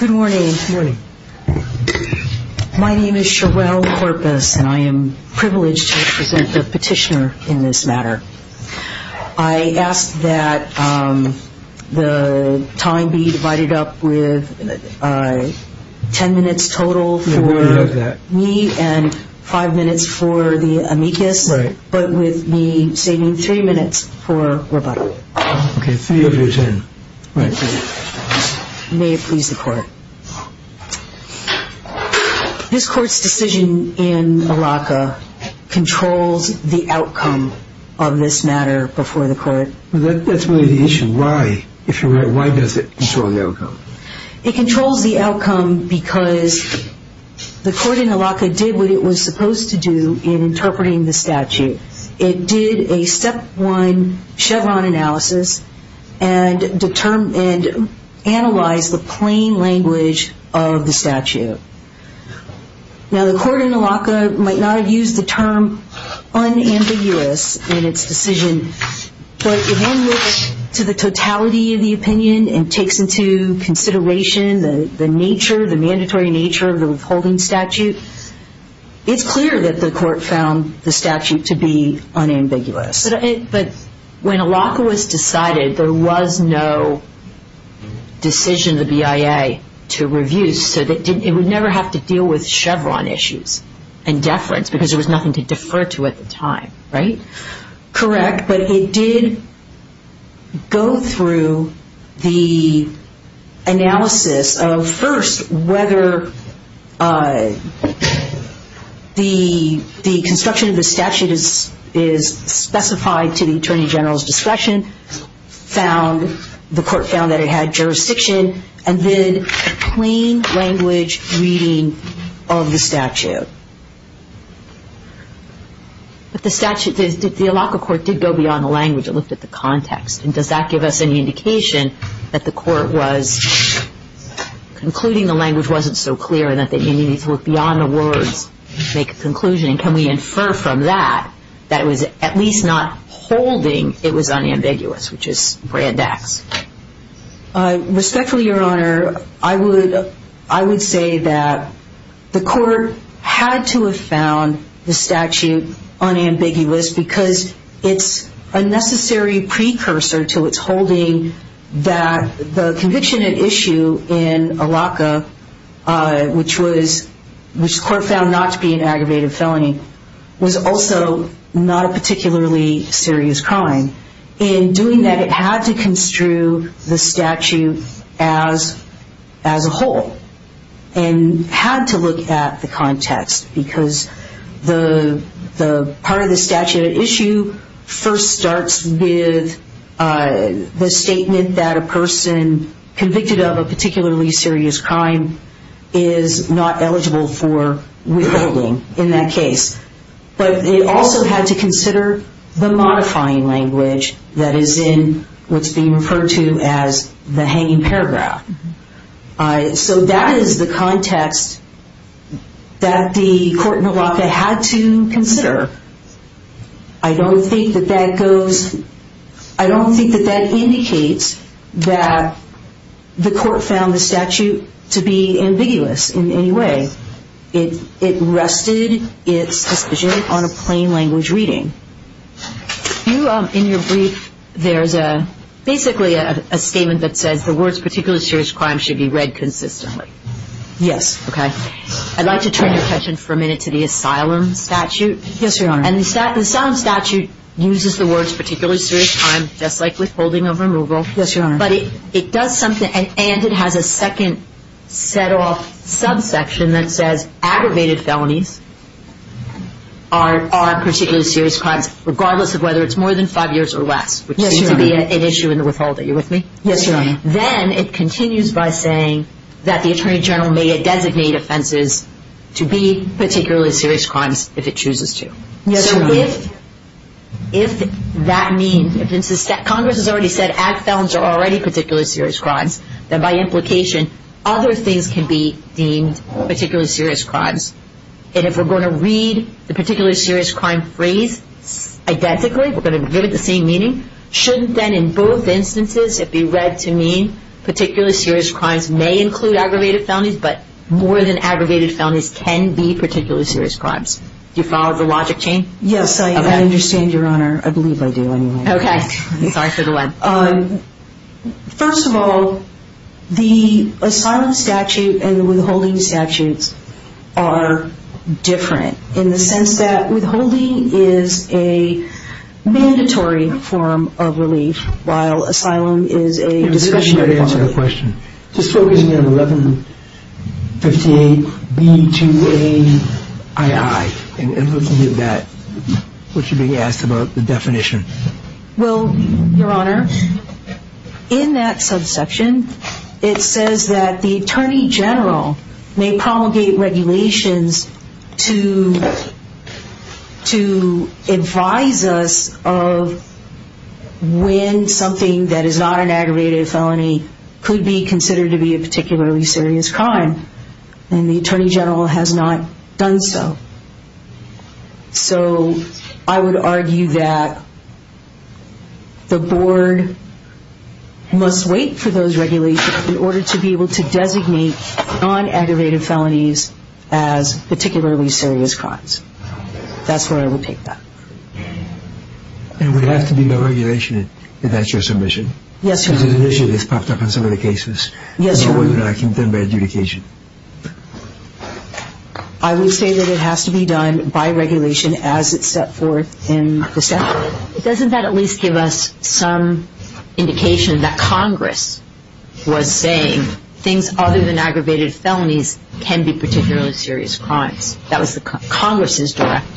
Good morning. My name is Sherelle Corpus and I am privileged to present the petitioner in this matter. I ask that the time be divided up with ten minutes total for me and five minutes for the amicus, but with me saving three minutes for Roberto. May it please the court. This court's decision in ALACA controls the outcome of this matter before the court. That's really the issue. Why does it control the outcome? It controls the outcome because the court in ALACA did what it was supposed to do in interpreting the statute. It did a step one Chevron analysis and analyzed the plain language of the statute. Now the court in ALACA might not have used the term unambiguous in its decision, but if one looks to the totality of the opinion and takes into consideration the nature, the mandatory nature of the withholding statute, it's clear that the court found the statute to be unambiguous. But when ALACA was decided, there was no decision of the BIA to review, so it would never have to deal with Chevron issues and deference because there was nothing to defer to at the time, right? Correct, but it did go through the analysis of first whether the construction of the statute is specified to the Attorney General's discretion. The court found that it had jurisdiction and did a plain language reading of the statute. But the statute, the ALACA court did go beyond the language and looked at the context. And does that give us any indication that the court was concluding the language wasn't so clear and that they needed to look beyond the words to make a conclusion? And can we infer from that that it was at least not holding it was unambiguous, which is brand X? Respectfully, Your Honor, I would say that the court had to have found the statute unambiguous because it's a necessary precursor to its holding that the conviction at issue in ALACA, which the court found not to be an aggravated felony, was also not a particularly serious crime. In doing that, it had to construe the statute as a whole and had to look at the context because part of the statute at issue first starts with the statement that a person convicted of a particularly serious crime is not eligible for withholding in that case. But it also had to consider the modifying language that is in what's being referred to as the hanging paragraph. So that is the context that the court in ALACA had to consider. I don't think that that goes, I don't think that that indicates that the court found the statute to be ambiguous in any way. It rested its decision on a plain language reading. In your brief, there's basically a statement that says the words particularly serious crime should be read consistently. Yes. Okay. I'd like to turn your attention for a minute to the asylum statute. Yes, Your Honor. And the asylum statute uses the words particularly serious crime just like withholding of removal. Yes, Your Honor. And it has a second set off subsection that says aggravated felonies are particularly serious crimes regardless of whether it's more than five years or less. Yes, Your Honor. Which seems to be an issue in the withholding. Are you with me? Yes, Your Honor. Then it continues by saying that the Attorney General may designate offenses to be particularly serious crimes if it chooses to. Yes, Your Honor. If that means, if Congress has already said ag felons are already particularly serious crimes, then by implication other things can be deemed particularly serious crimes. And if we're going to read the particularly serious crime phrase identically, we're going to give it the same meaning, shouldn't then in both instances it be read to mean particularly serious crimes may include aggravated felonies, but more than aggravated felonies can be particularly serious crimes? Do you follow the logic, Jane? Yes, I understand, Your Honor. I believe I do anyway. Okay. Sorry for the web. First of all, the asylum statute and the withholding statutes are different in the sense that withholding is a mandatory form of relief while asylum is a discretionary form of relief. Just focusing on 1158B2AII and looking at that, what you're being asked about the definition? Well, Your Honor, in that subsection it says that the Attorney General may promulgate regulations to advise us of when something that is not an aggravated felony could be considered to be a particularly serious crime, and the Attorney General has not done so. So I would argue that the Board must wait for those regulations in order to be able to designate non-aggravated felonies as particularly serious crimes. That's where I would take that. And would it have to be by regulation that that's your submission? Yes, Your Honor. Because initially this popped up in some of the cases. Yes, Your Honor. And it wasn't done by adjudication. I would say that it has to be done by regulation as it's set forth in the statute. Doesn't that at least give us some indication that Congress was saying things other than aggravated felonies can be particularly serious crimes? That was Congress's direction.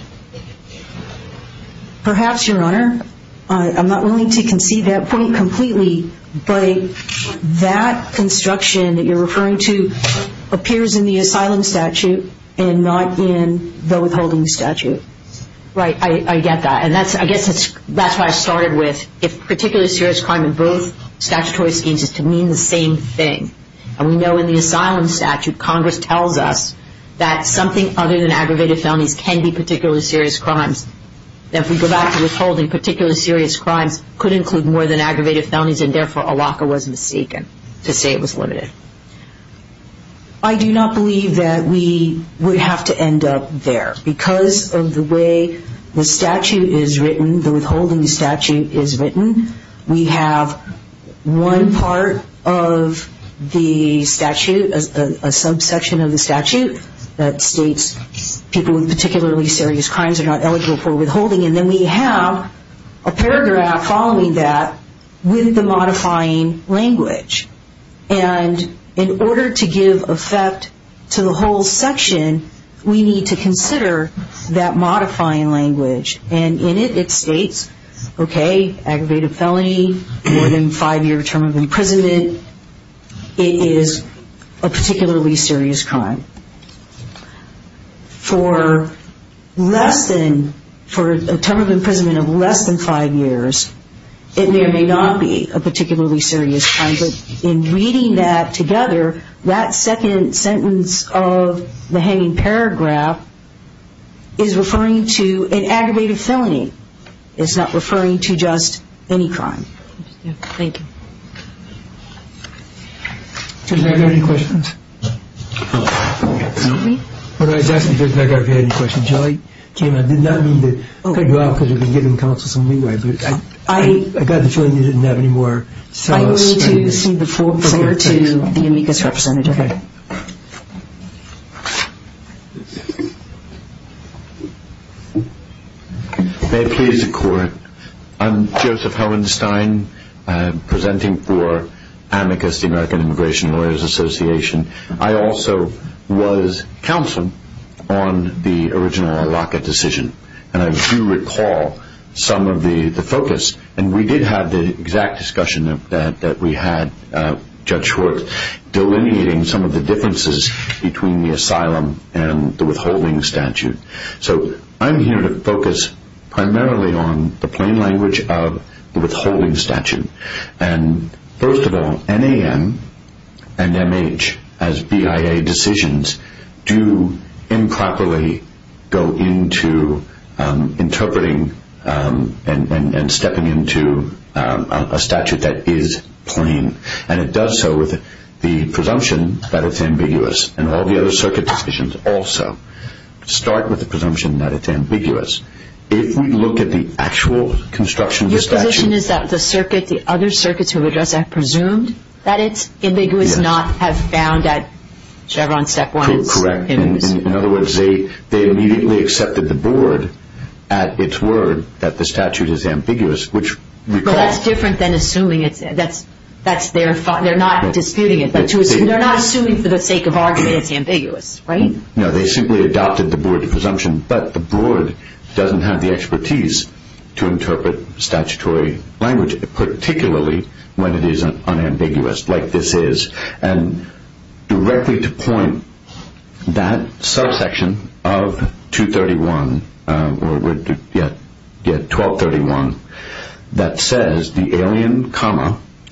Perhaps, Your Honor. I'm not willing to concede that point completely, but that construction that you're referring to appears in the asylum statute and not in the withholding statute. Right. I get that. And I guess that's why I started with if particularly serious crime in both statutory schemes is to mean the same thing. And we know in the asylum statute, Congress tells us that something other than aggravated felonies can be particularly serious crimes. If we go back to withholding, particularly serious crimes could include more than aggravated felonies, and therefore, Allocca was mistaken to say it was limited. I do not believe that we would have to end up there. Because of the way the statute is written, the withholding statute is written, we have one part of the statute, a subsection of the statute, that states people with particularly serious crimes are not eligible for withholding. And then we have a paragraph following that with the modifying language. And in order to give effect to the whole section, we need to consider that modifying language. And in it, it states, okay, aggravated felony, more than five-year term of imprisonment, it is a particularly serious crime. For less than, for a term of imprisonment of less than five years, it may or may not be a particularly serious crime. But in reading that together, that second sentence of the hanging paragraph is referring to an aggravated felony. It's not referring to just any crime. Thank you. Judge McGarvey, any questions? Excuse me? What I was asking, Judge McGarvey, if you had any questions, I did not mean to cut you off because you've been giving counsel some leeway, but I got the feeling you didn't have any more. I'm going to see the floor to the amicus representative. Okay. May it please the Court. I'm Joseph Hellenstein, presenting for amicus, the American Immigration Lawyers Association. I also was counsel on the original ALACA decision, and I do recall some of the focus. And we did have the exact discussion that we had, Judge Schwartz, delineating some of the differences between the asylum and the withholding statute. So I'm here to focus primarily on the plain language of the withholding statute. And first of all, NAM and MH, as BIA decisions, do improperly go into interpreting and stepping into a statute that is plain. And it does so with the presumption that it's ambiguous, and all the other circuit decisions also. Start with the presumption that it's ambiguous. If we look at the actual construction of the statute. Your position is that the circuit, the other circuits who have addressed that, presumed that it's ambiguous, not have found that Chevron Step 1 is amicus? Correct. In other words, they immediately accepted the board at its word that the statute is ambiguous, which recalls. Well, that's different than assuming it's – that's their – they're not disputing it. They're not assuming for the sake of argument it's ambiguous, right? No, they simply adopted the board presumption, but the board doesn't have the expertise to interpret statutory language, particularly when it is unambiguous like this is. And directly to point, that subsection of 231, or 1231, that says the alien,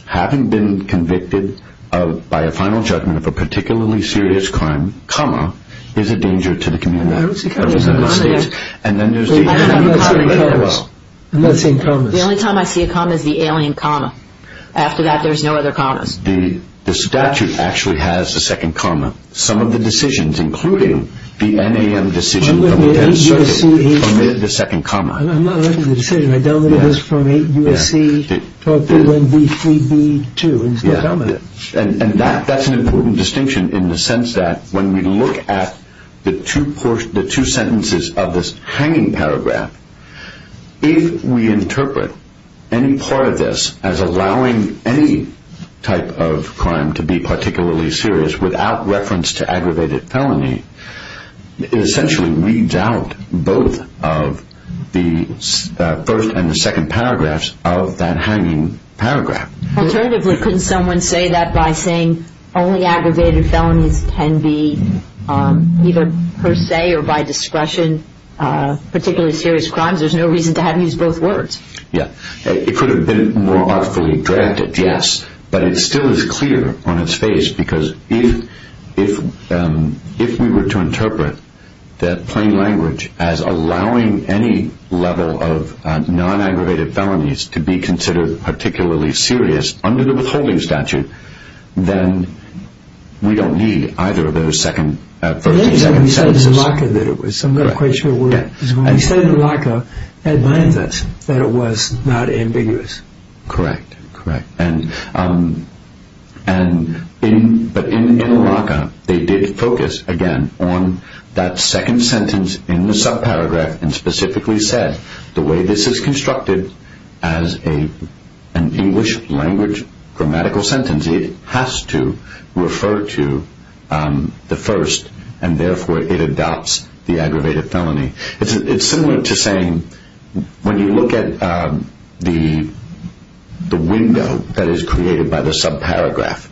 having been convicted by a final judgment of a particularly serious crime, is a danger to the community. I don't see commas. I'm not seeing commas. The only time I see a comma is the alien comma. After that, there's no other commas. The statute actually has a second comma. Some of the decisions, including the NAM decision from the 10th Circuit, permitted the second comma. I'm not aware of the decision. I downloaded this from a USC 1231-B3-B2. And that's an important distinction in the sense that when we look at the two sentences of this hanging paragraph, if we interpret any part of this as allowing any type of crime to be particularly serious without reference to aggravated felony, it essentially reads out both of the first and the second paragraphs of that hanging paragraph. Alternatively, couldn't someone say that by saying only aggravated felonies can be either per se or by discretion particularly serious crimes? There's no reason to have to use both words. Yeah. It could have been more artfully drafted, yes, but it still is clear on its face because if we were to interpret that plain language as allowing any level of non-aggravated felonies to be considered particularly serious under the withholding statute, then we don't need either of those first and second sentences. It is when we said in the RACA that it was. I'm not quite sure where it is. When we said it in the RACA, it meant that it was not ambiguous. Correct. Correct. But in the RACA, they did focus, again, on that second sentence in the subparagraph and specifically said the way this is constructed as an English language grammatical sentence, it has to refer to the first and therefore it adopts the aggravated felony. It's similar to saying when you look at the window that is created by the subparagraph,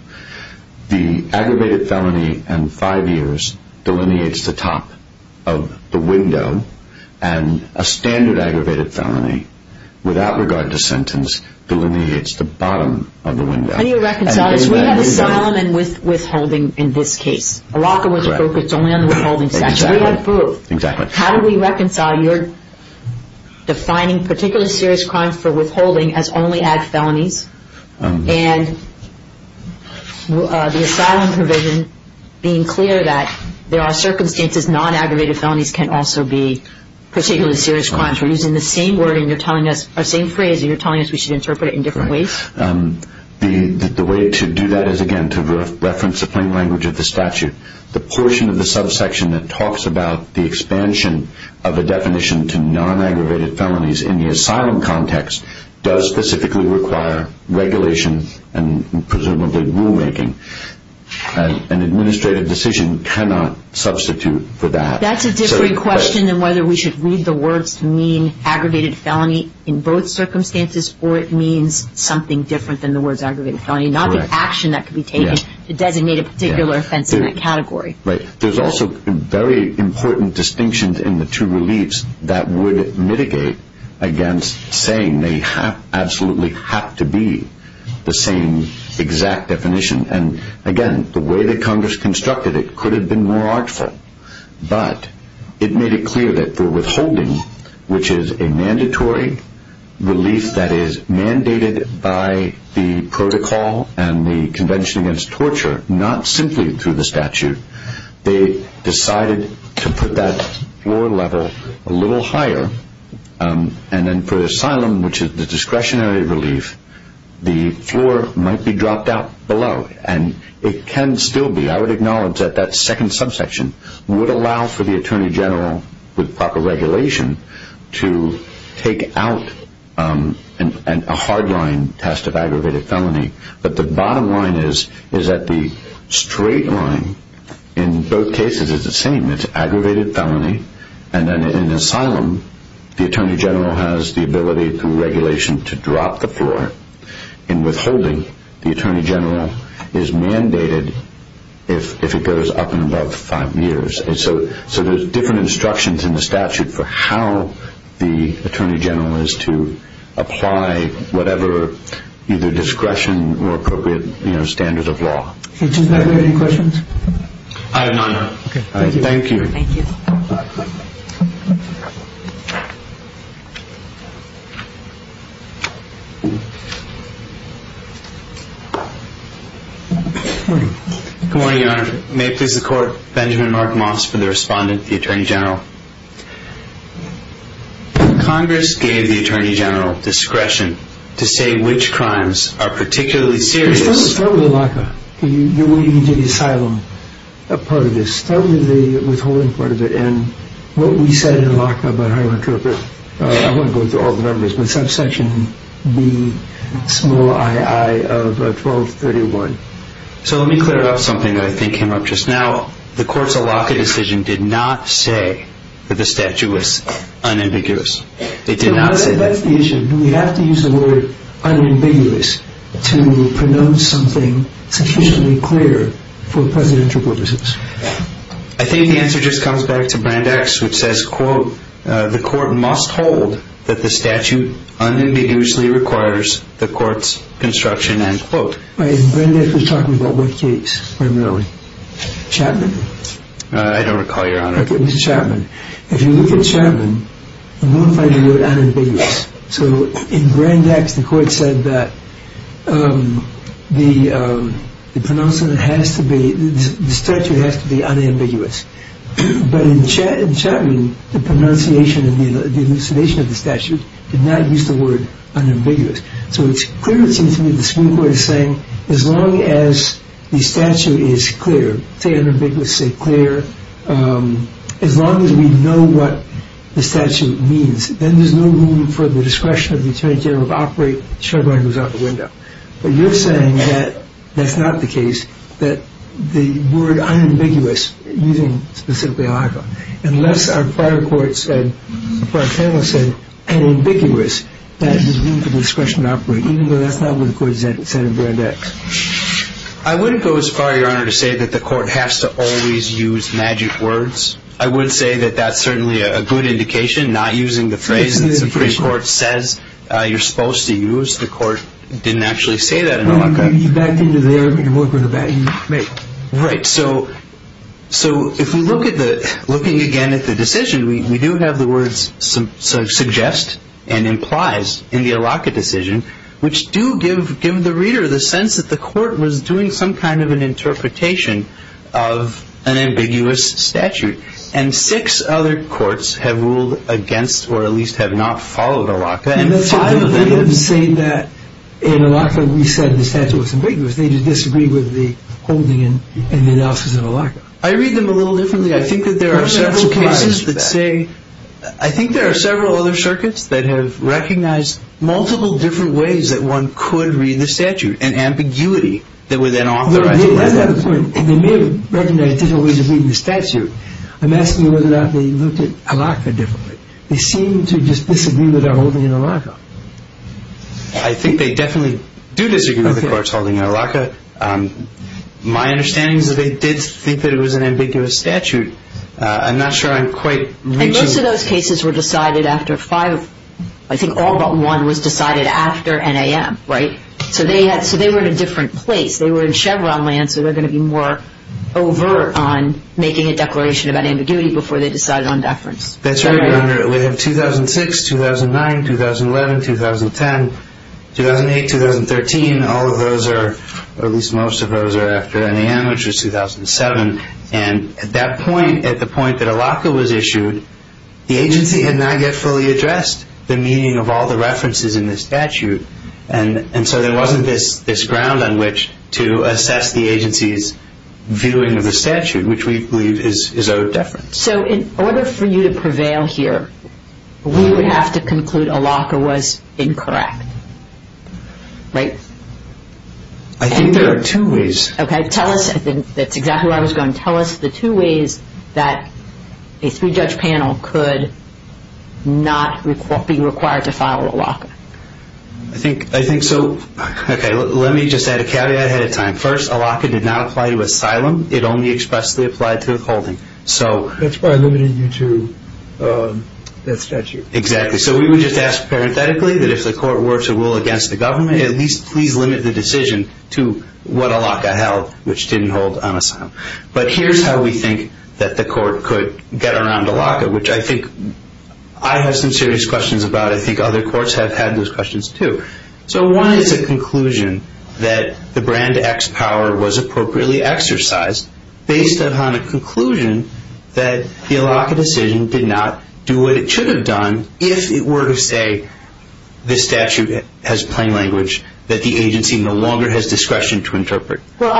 the aggravated felony and five years delineates the top of the window and a standard aggravated felony without regard to sentence delineates the bottom of the window. How do you reconcile this? We have asylum and withholding in this case. RACA was focused only on the withholding statute. We had both. Exactly. How do we reconcile your defining particularly serious crimes for withholding as only ag felonies and the asylum provision being clear that there are circumstances non-aggravated felonies can also be particularly serious crimes? We're using the same phrase and you're telling us we should interpret it in different ways? The way to do that is, again, to reference the plain language of the statute. The portion of the subsection that talks about the expansion of a definition to non-aggravated felonies in the asylum context does specifically require regulation and presumably rulemaking. An administrative decision cannot substitute for that. That's a different question than whether we should read the words mean aggravated felony in both circumstances or it means something different than the words aggravated felony, not the action that could be taken to designate a particular offense in that category. There's also very important distinctions in the two reliefs that would mitigate against saying they absolutely have to be the same exact definition. Again, the way that Congress constructed it could have been more artful, but it made it clear that the withholding, which is a mandatory relief that is mandated by the protocol and the Convention Against Torture, not simply through the statute. They decided to put that floor level a little higher, and then for asylum, which is the discretionary relief, the floor might be dropped out below, and it can still be. I would acknowledge that that second subsection would allow for the Attorney General, with proper regulation, to take out a hardline test of aggravated felony, but the bottom line is that the straight line in both cases is the same. It's aggravated felony, and then in asylum, the Attorney General has the ability through regulation to drop the floor. In withholding, the Attorney General is mandated if it goes up and above five years. So there's different instructions in the statute for how the Attorney General is to apply whatever either discretion or appropriate standard of law. Does anybody have any questions? I have none. Thank you. Good morning. Good morning, Your Honor. May it please the Court, Benjamin Mark Moss for the Respondent, the Attorney General. Congress gave the Attorney General discretion to say which crimes are particularly serious. Let's start with the LACA. You're waiting to do the asylum part of this. Start with the withholding part of it, and what we said in LACA about how it could have been, I won't go through all the numbers, but subsection B, small ii of 1231. So let me clear up something that I think came up just now. The court's LACA decision did not say that the statute was unambiguous. It did not say that. That's the issue. Do we have to use the word unambiguous to pronounce something sufficiently clear for presidential purposes? I think the answer just comes back to Brand X, which says, quote, the court must hold that the statute unambiguously requires the court's construction, end quote. Brand X was talking about what case primarily? Chapman? I don't recall, Your Honor. Okay, it was Chapman. If you look at Chapman, you won't find the word unambiguous. So in Brand X, the court said that the pronouncement has to be, the statute has to be unambiguous. But in Chapman, the pronunciation and the elucidation of the statute did not use the word unambiguous. So it's clear, it seems to me, the Supreme Court is saying as long as the statute is clear, say unambiguous, say clear, as long as we know what the statute means, then there's no room for the discretion of the attorney general to operate, the shotgun goes out the window. But you're saying that that's not the case, that the word unambiguous, using specifically a shotgun, unless our prior court said, prior panel said unambiguous, that there's room for discretion to operate, even though that's not what the court said in Brand X. I wouldn't go as far, Your Honor, to say that the court has to always use magic words. I would say that that's certainly a good indication, not using the phrase that the Supreme Court says you're supposed to use. The court didn't actually say that in a shotgun. You backed into there, but you weren't going to back. Right. So if we look at the, looking again at the decision, we do have the words suggest and implies in the Allocca decision, which do give the reader the sense that the court was doing some kind of an interpretation of an ambiguous statute. And six other courts have ruled against, or at least have not followed Allocca. Five of them say that in Allocca we said the statute was ambiguous. They just disagree with the holding and the analysis in Allocca. I read them a little differently. I think that there are several cases that say, I think there are several other circuits that have recognized multiple different ways that one could read the statute, and ambiguity that would then authorize it. They may have recognized different ways of reading the statute. I'm asking whether or not they looked at Allocca differently. They seem to just disagree with our holding in Allocca. I think they definitely do disagree with the court's holding in Allocca. My understanding is that they did think that it was an ambiguous statute. I'm not sure I'm quite reaching. And most of those cases were decided after five, I think all but one was decided after NAM, right? So they were in a different place. They were in Chevron land, so they're going to be more overt on making a declaration about ambiguity before they decided on deference. That's right. We have 2006, 2009, 2011, 2010, 2008, 2013. All of those are, or at least most of those are after NAM, which was 2007. And at that point, at the point that Allocca was issued, the agency had not yet fully addressed the meaning of all the references in the statute. And so there wasn't this ground on which to assess the agency's viewing of the statute, which we believe is owed deference. So in order for you to prevail here, we would have to conclude Allocca was incorrect, right? I think there are two ways. Okay, tell us. That's exactly where I was going. Tell us the two ways that a three-judge panel could not be required to file Allocca. I think so. Okay, let me just add a caveat ahead of time. First, Allocca did not apply to asylum. It only expressly applied to the holding. That's why I limited you to that statute. Exactly. So we would just ask parenthetically that if the court were to rule against the government, at least please limit the decision to what Allocca held, which didn't hold on asylum. But here's how we think that the court could get around Allocca, which I think I have some serious questions about. I think other courts have had those questions too. So one is a conclusion that the brand X power was appropriately exercised based upon a conclusion that the Allocca decision did not do what it should have done if it were to say this statute has plain language, that the agency no longer has discretion to interpret. Well,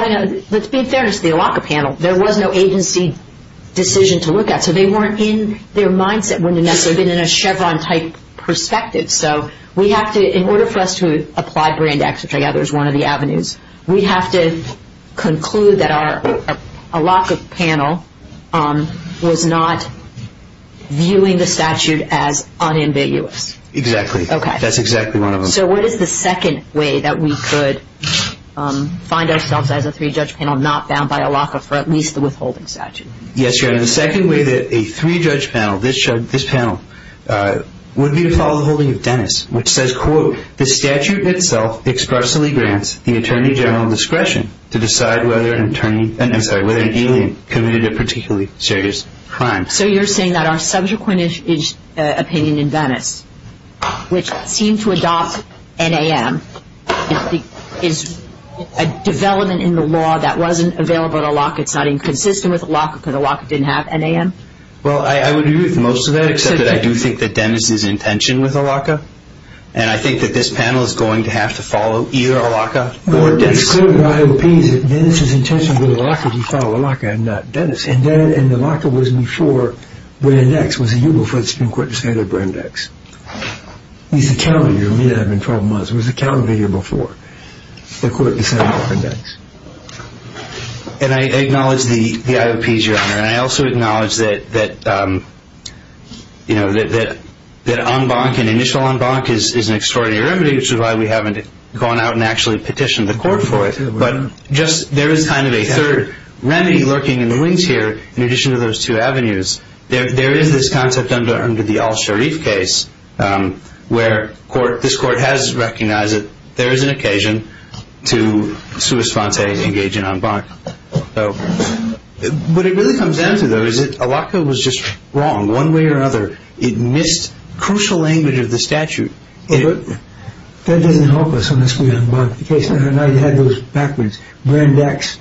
let's be fair to the Allocca panel. There was no agency decision to look at, so they weren't in their mindset, wouldn't necessarily have been in a Chevron-type perspective. So we have to, in order for us to apply brand X, which I gather is one of the avenues, we have to conclude that our Allocca panel was not viewing the statute as unambiguous. Exactly. That's exactly one of them. So what is the second way that we could find ourselves as a three-judge panel not bound by Allocca for at least the withholding statute? Yes, Your Honor, the second way that a three-judge panel, this panel, would be to follow the holding of Dennis, which says, quote, So you're saying that our subsequent opinion in Dennis, which seemed to adopt NAM, is a development in the law that wasn't available to Allocca, it's not inconsistent with Allocca because Allocca didn't have NAM? Well, I would agree with most of that, except that I do think that Dennis is in tension with Allocca, and I think that this panel is going to have to follow either Allocca or Dennis. It's clear in the IOPs that Dennis is in tension with Allocca if you follow Allocca and not Dennis, and the Allocca was before brand X, was a year before the Supreme Court decided brand X. It's a calendar year. It may not have been 12 months. It was a calendar year before the Court decided brand X. And I acknowledge the IOPs, Your Honor, and I also acknowledge that en banc, an initial en banc, is an extraordinary remedy, which is why we haven't gone out and actually petitioned the Court for it, but just there is kind of a third remedy lurking in the wings here, in addition to those two avenues. There is this concept under the al-Sharif case where this Court has recognized that there is an occasion to sui sponte, engage in en banc. What it really comes down to, though, is that Allocca was just wrong one way or another. It missed crucial language of the statute. But that doesn't help us unless we en banc. The case that I had, it had those backwards. Brand X,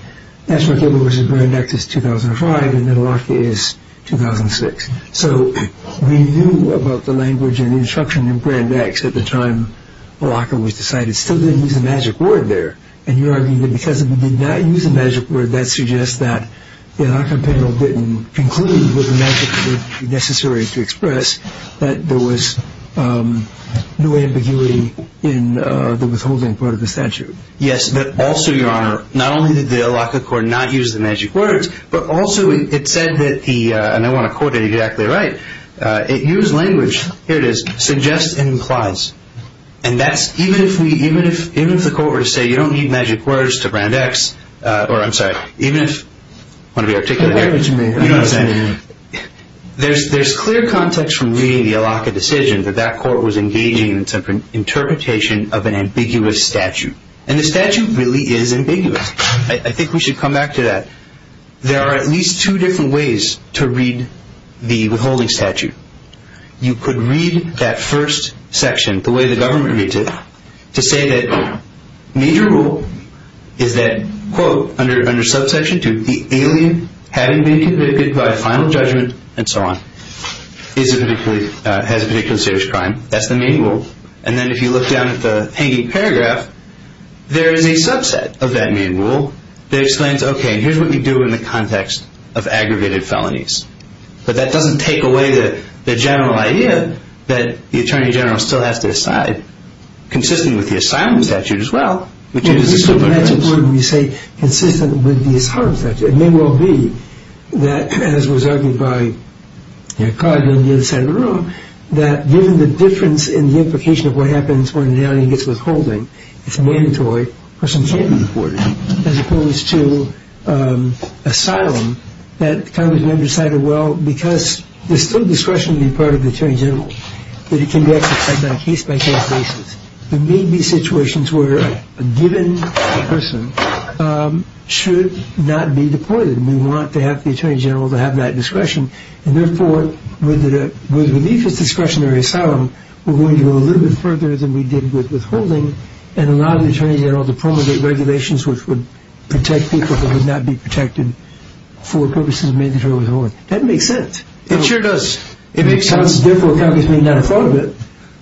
that's what gave us brand X is 2005, and then Allocca is 2006. So we knew about the language and instruction in brand X at the time Allocca was decided. Still didn't use the magic word there. And you argue that because we did not use the magic word, that suggests that the Allocca panel didn't conclude with the magic word necessary to express that there was no ambiguity in the withholding part of the statute. Yes, but also, Your Honor, not only did the Allocca Court not use the magic words, but also it said that the, and I want to quote it exactly right, it used language, here it is, suggests and implies. And that's, even if we, even if the Court were to say you don't need magic words to brand X, or I'm sorry, even if, want to be articulate here, you know what I'm saying, there's clear context from reading the Allocca decision that that Court was engaging in some interpretation of an ambiguous statute. And the statute really is ambiguous. I think we should come back to that. There are at least two different ways to read the withholding statute. You could read that first section, the way the government reads it, to say that major rule is that, quote, under subsection 2, the alien having been convicted by final judgment, and so on, is a particular, has a particular serious crime. That's the main rule. And then if you look down at the hanging paragraph, there is a subset of that main rule that explains, okay, here's what you do in the context of aggravated felonies. But that doesn't take away the general idea that the Attorney General still has to decide, consistent with the asylum statute as well, which is a subordination. Yeah, but we still match a word when we say consistent with the asylum statute. It may well be that, as was argued by Cargill on the other side of the room, that given the difference in the implication of what happens when an alien gets withholding, it's mandatory, a person can't be deported, as opposed to asylum, that Congress may have decided, well, because there's still discretion to be part of the Attorney General, that it can be exercised on a case-by-case basis. There may be situations where a given person should not be deported, and we want to have the Attorney General to have that discretion, and therefore with relief of discretionary asylum, we're going to go a little bit further than we did with withholding and allow the Attorney General to promulgate regulations which would protect people who could not be protected for purposes of mandatory withholding. That makes sense. It sure does. Therefore, Congress may not have thought of it,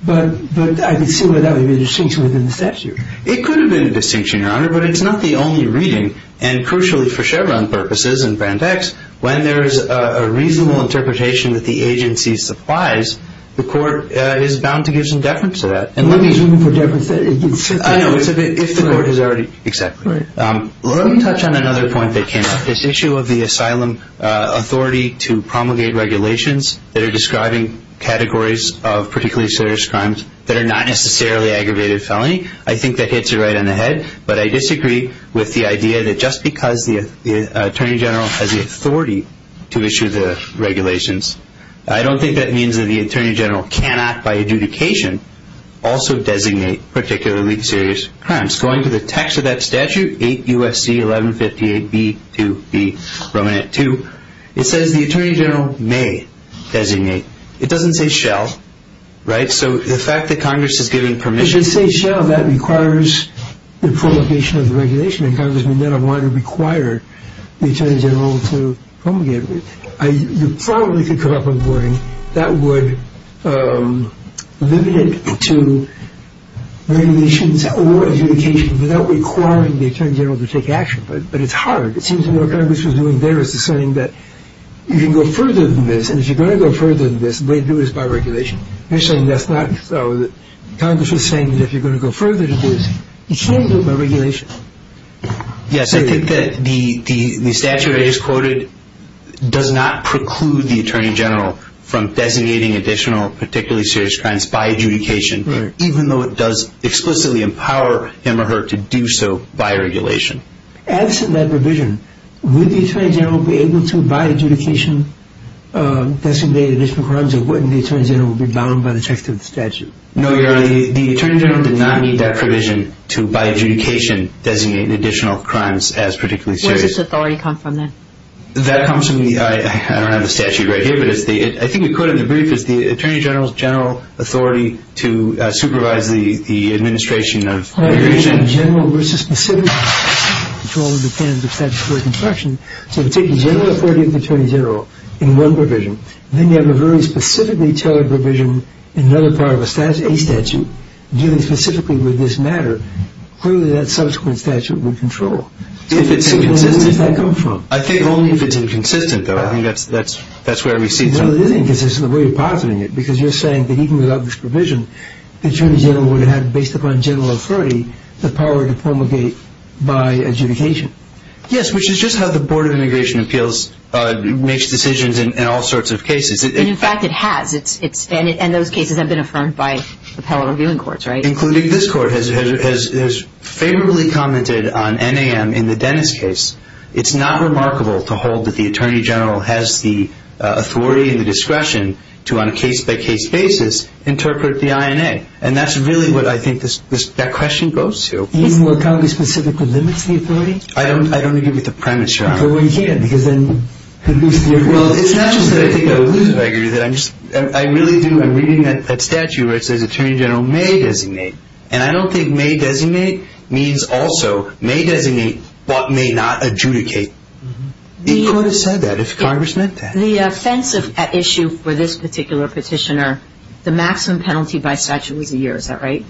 but I can see why that would be the distinction within the statute. It could have been a distinction, Your Honor, but it's not the only reading, and crucially for Chevron purposes and Brand X, when there is a reasonable interpretation that the agency supplies, the court is bound to give some deference to that. And what do you mean for deference? I know, it's if the court has already... Exactly. Let me touch on another point that came up, this issue of the asylum authority to promulgate regulations that are describing categories of particularly serious crimes that are not necessarily aggravated felony. I think that hits it right on the head, but I disagree with the idea that just because the Attorney General has the authority to issue the regulations, I don't think that means that the Attorney General cannot, by adjudication, also designate particularly serious crimes. Going to the text of that statute, 8 U.S.C. 1158 B.2.B. 2, it says the Attorney General may designate. It doesn't say shall, right? So the fact that Congress is giving permission... If it says shall, that requires the promulgation of the regulation, and Congress may not want to require the Attorney General to promulgate it. You probably could come up with a wording that would limit it to regulations or adjudication without requiring the Attorney General to take action, but it's hard. It seems to me what Congress is doing there is saying that you can go further than this, and if you're going to go further than this, they do this by regulation. They're saying that's not so. Congress is saying that if you're going to go further than this, you can't do it by regulation. Yes, I think that the statute I just quoted does not preclude the Attorney General from designating additional particularly serious crimes by adjudication, even though it does explicitly empower him or her to do so by regulation. Absent that provision, would the Attorney General be able to, by adjudication, designate additional crimes, or wouldn't the Attorney General be bound by the text of the statute? No, Your Honor, the Attorney General did not need that provision to, by adjudication, designate additional crimes as particularly serious. Where does this authority come from then? That comes from the statute right here. I think the quote in the brief is the Attorney General's general authority to supervise the administration of regulation. General versus specific control and dependence of statutory construction. So if you take the general authority of the Attorney General in one provision, and then you have a very specifically tailored provision in another part of a statute, dealing specifically with this matter, clearly that subsequent statute would control. Where does that come from? I think only if it's inconsistent, though. I think that's where we see it from. Well, it is inconsistent the way you're positing it, because you're saying that even without this provision, the Attorney General would have, based upon general authority, the power to promulgate by adjudication. Yes, which is just how the Board of Immigration Appeals makes decisions in all sorts of cases. In fact, it has. And those cases have been affirmed by the appellate reviewing courts, right? Including this court has favorably commented on NAM in the Dennis case. It's not remarkable to hold that the Attorney General has the authority and the discretion to, on a case-by-case basis, interpret the INA. And that's really what I think that question goes to. Even while Congress specifically limits the authority? I don't agree with the premise, Your Honor. Well, you can't, because then you lose the authority. Well, it's not just that I think I would lose it. I agree with that. I really do. I'm reading that statute where it says Attorney General may designate. And I don't think may designate means also may designate but may not adjudicate. The court has said that if Congress meant that. The offensive issue for this particular petitioner, the maximum penalty by statute was a year. Is that right?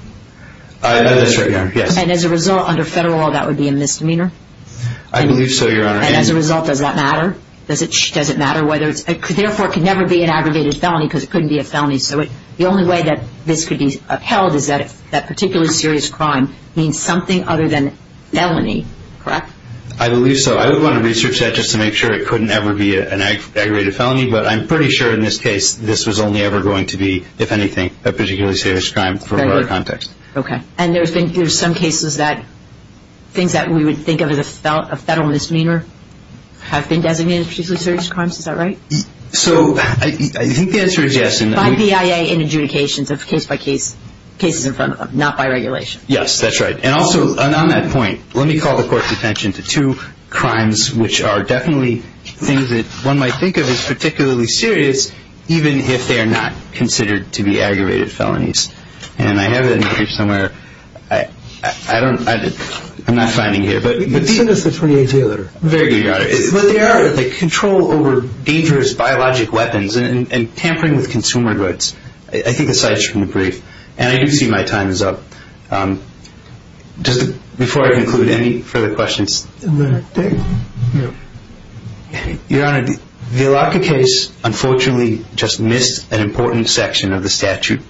That's right, Your Honor. Yes. And as a result, under federal law, that would be a misdemeanor? I believe so, Your Honor. And as a result, does that matter? Does it matter whether it's – therefore, it could never be an aggravated felony because it couldn't be a felony. So the only way that this could be upheld is that that particularly serious crime means something other than felony, correct? I believe so. I would want to research that just to make sure it couldn't ever be an aggravated felony. But I'm pretty sure in this case this was only ever going to be, if anything, a particularly serious crime from our context. Okay. And there's been – there's some cases that things that we would think of as a federal misdemeanor have been designated as particularly serious crimes. Is that right? So I think the answer is yes. By BIA in adjudications of case-by-case cases in front of them, not by regulation. Yes, that's right. And also, on that point, let me call the Court's attention to two crimes which are definitely things that one might think of as particularly serious even if they are not considered to be aggravated felonies. And I have it on the page somewhere. I don't – I'm not finding here. Very good, Your Honor. But they are, like, control over dangerous biologic weapons and tampering with consumer goods. I think aside from the brief. And I do see my time is up. Just before I conclude, any further questions? Your Honor, the Elaka case unfortunately just missed an important section of the statute.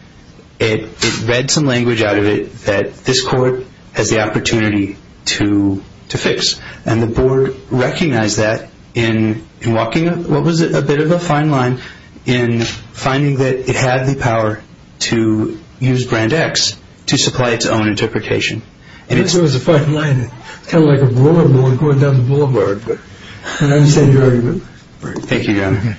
It read some language out of it that this Court has the opportunity to fix. And the Board recognized that in walking – what was it? A bit of a fine line in finding that it had the power to use Brand X to supply its own interpretation. I guess it was a fine line. It's kind of like a roller board going down the boulevard. But I understand your argument. Thank you, Your Honor. Okay.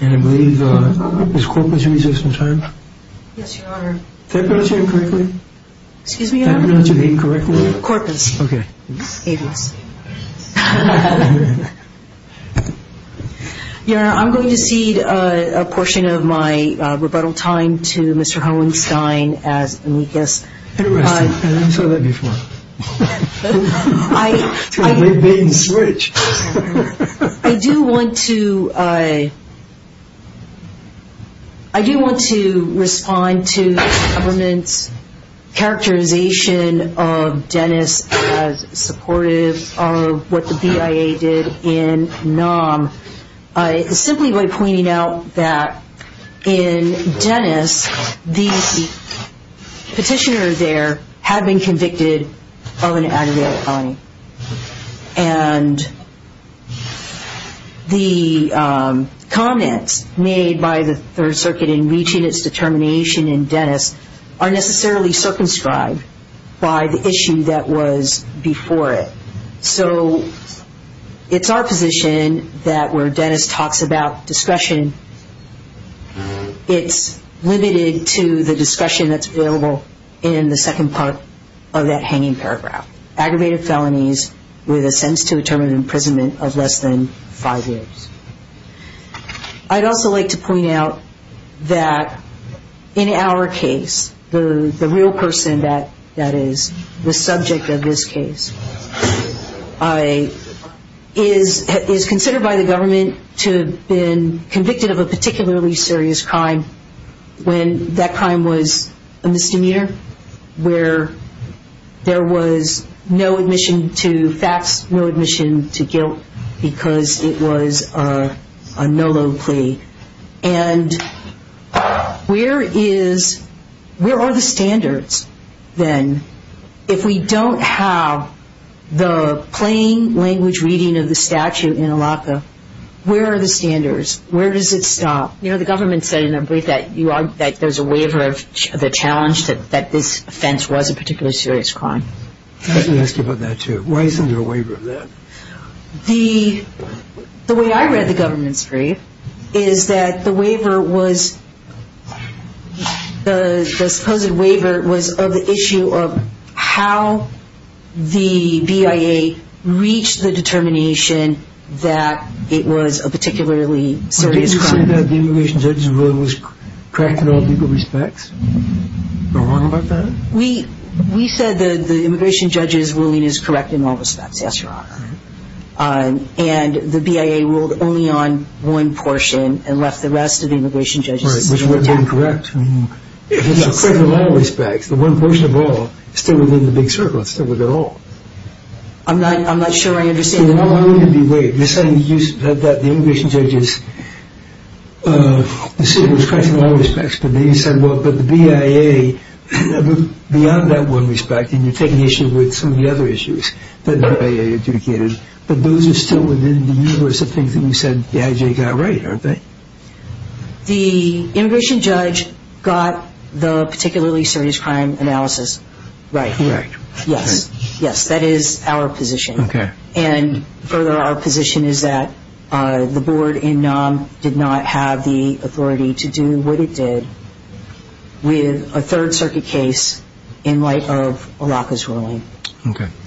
And I believe Ms. Corkman should be here some time. Yes, Your Honor. Did I pronounce your name correctly? Excuse me, Your Honor? Did I pronounce your name correctly? Corpus. Okay. Avis. Your Honor, I'm going to cede a portion of my rebuttal time to Mr. Hohenstein as amicus. Interesting. I never saw that before. It's a big bait and switch. I do want to respond to the government's characterization of Dennis as supportive of what the BIA did in NOM. Simply by pointing out that in Dennis, the petitioner there had been convicted of an aggravated felony. And the comments made by the Third Circuit in reaching its determination in Dennis are necessarily circumscribed by the issue that was before it. So it's our position that where Dennis talks about discretion, it's limited to the discussion that's available in the second part of that hanging paragraph. Aggravated felonies with a sentence to a term of imprisonment of less than five years. I'd also like to point out that in our case, the real person that is the subject of this case is considered by the government to have been convicted of a particularly serious crime when that crime was a misdemeanor, where there was no admission to facts, no admission to guilt, because it was a no-load plea. And where are the standards, then, if we don't have the plain language reading of the statute in ALACA? Where are the standards? Where does it stop? You know, the government said in their brief that there's a waiver of the challenge that this offense was a particularly serious crime. Let me ask you about that, too. Why isn't there a waiver of that? The way I read the government's brief is that the waiver was, the supposed waiver was of the issue of how the BIA reached the determination that it was a particularly serious crime. Did you say that the immigration judge's ruling was correct in all legal respects? Am I wrong about that? We said that the immigration judge's ruling is correct in all respects, yes, Your Honor. And the BIA ruled only on one portion and left the rest of the immigration judge's ruling intact. Right, which would have been correct. If it's correct in all respects, the one portion of all, it's still within the big circle. It's still within all. I'm not sure I understand. You're saying that the immigration judge's decision was correct in all respects, but the BIA, beyond that one respect, and you're taking issue with some of the other issues that the BIA adjudicated, but those are still within the universe of things that you said the IJ got right, aren't they? The immigration judge got the particularly serious crime analysis right. Correct. Yes, yes, that is our position. Okay. And further, our position is that the board in NOM did not have the authority to do what it did with a Third Circuit case in light of ALACA's ruling. Okay.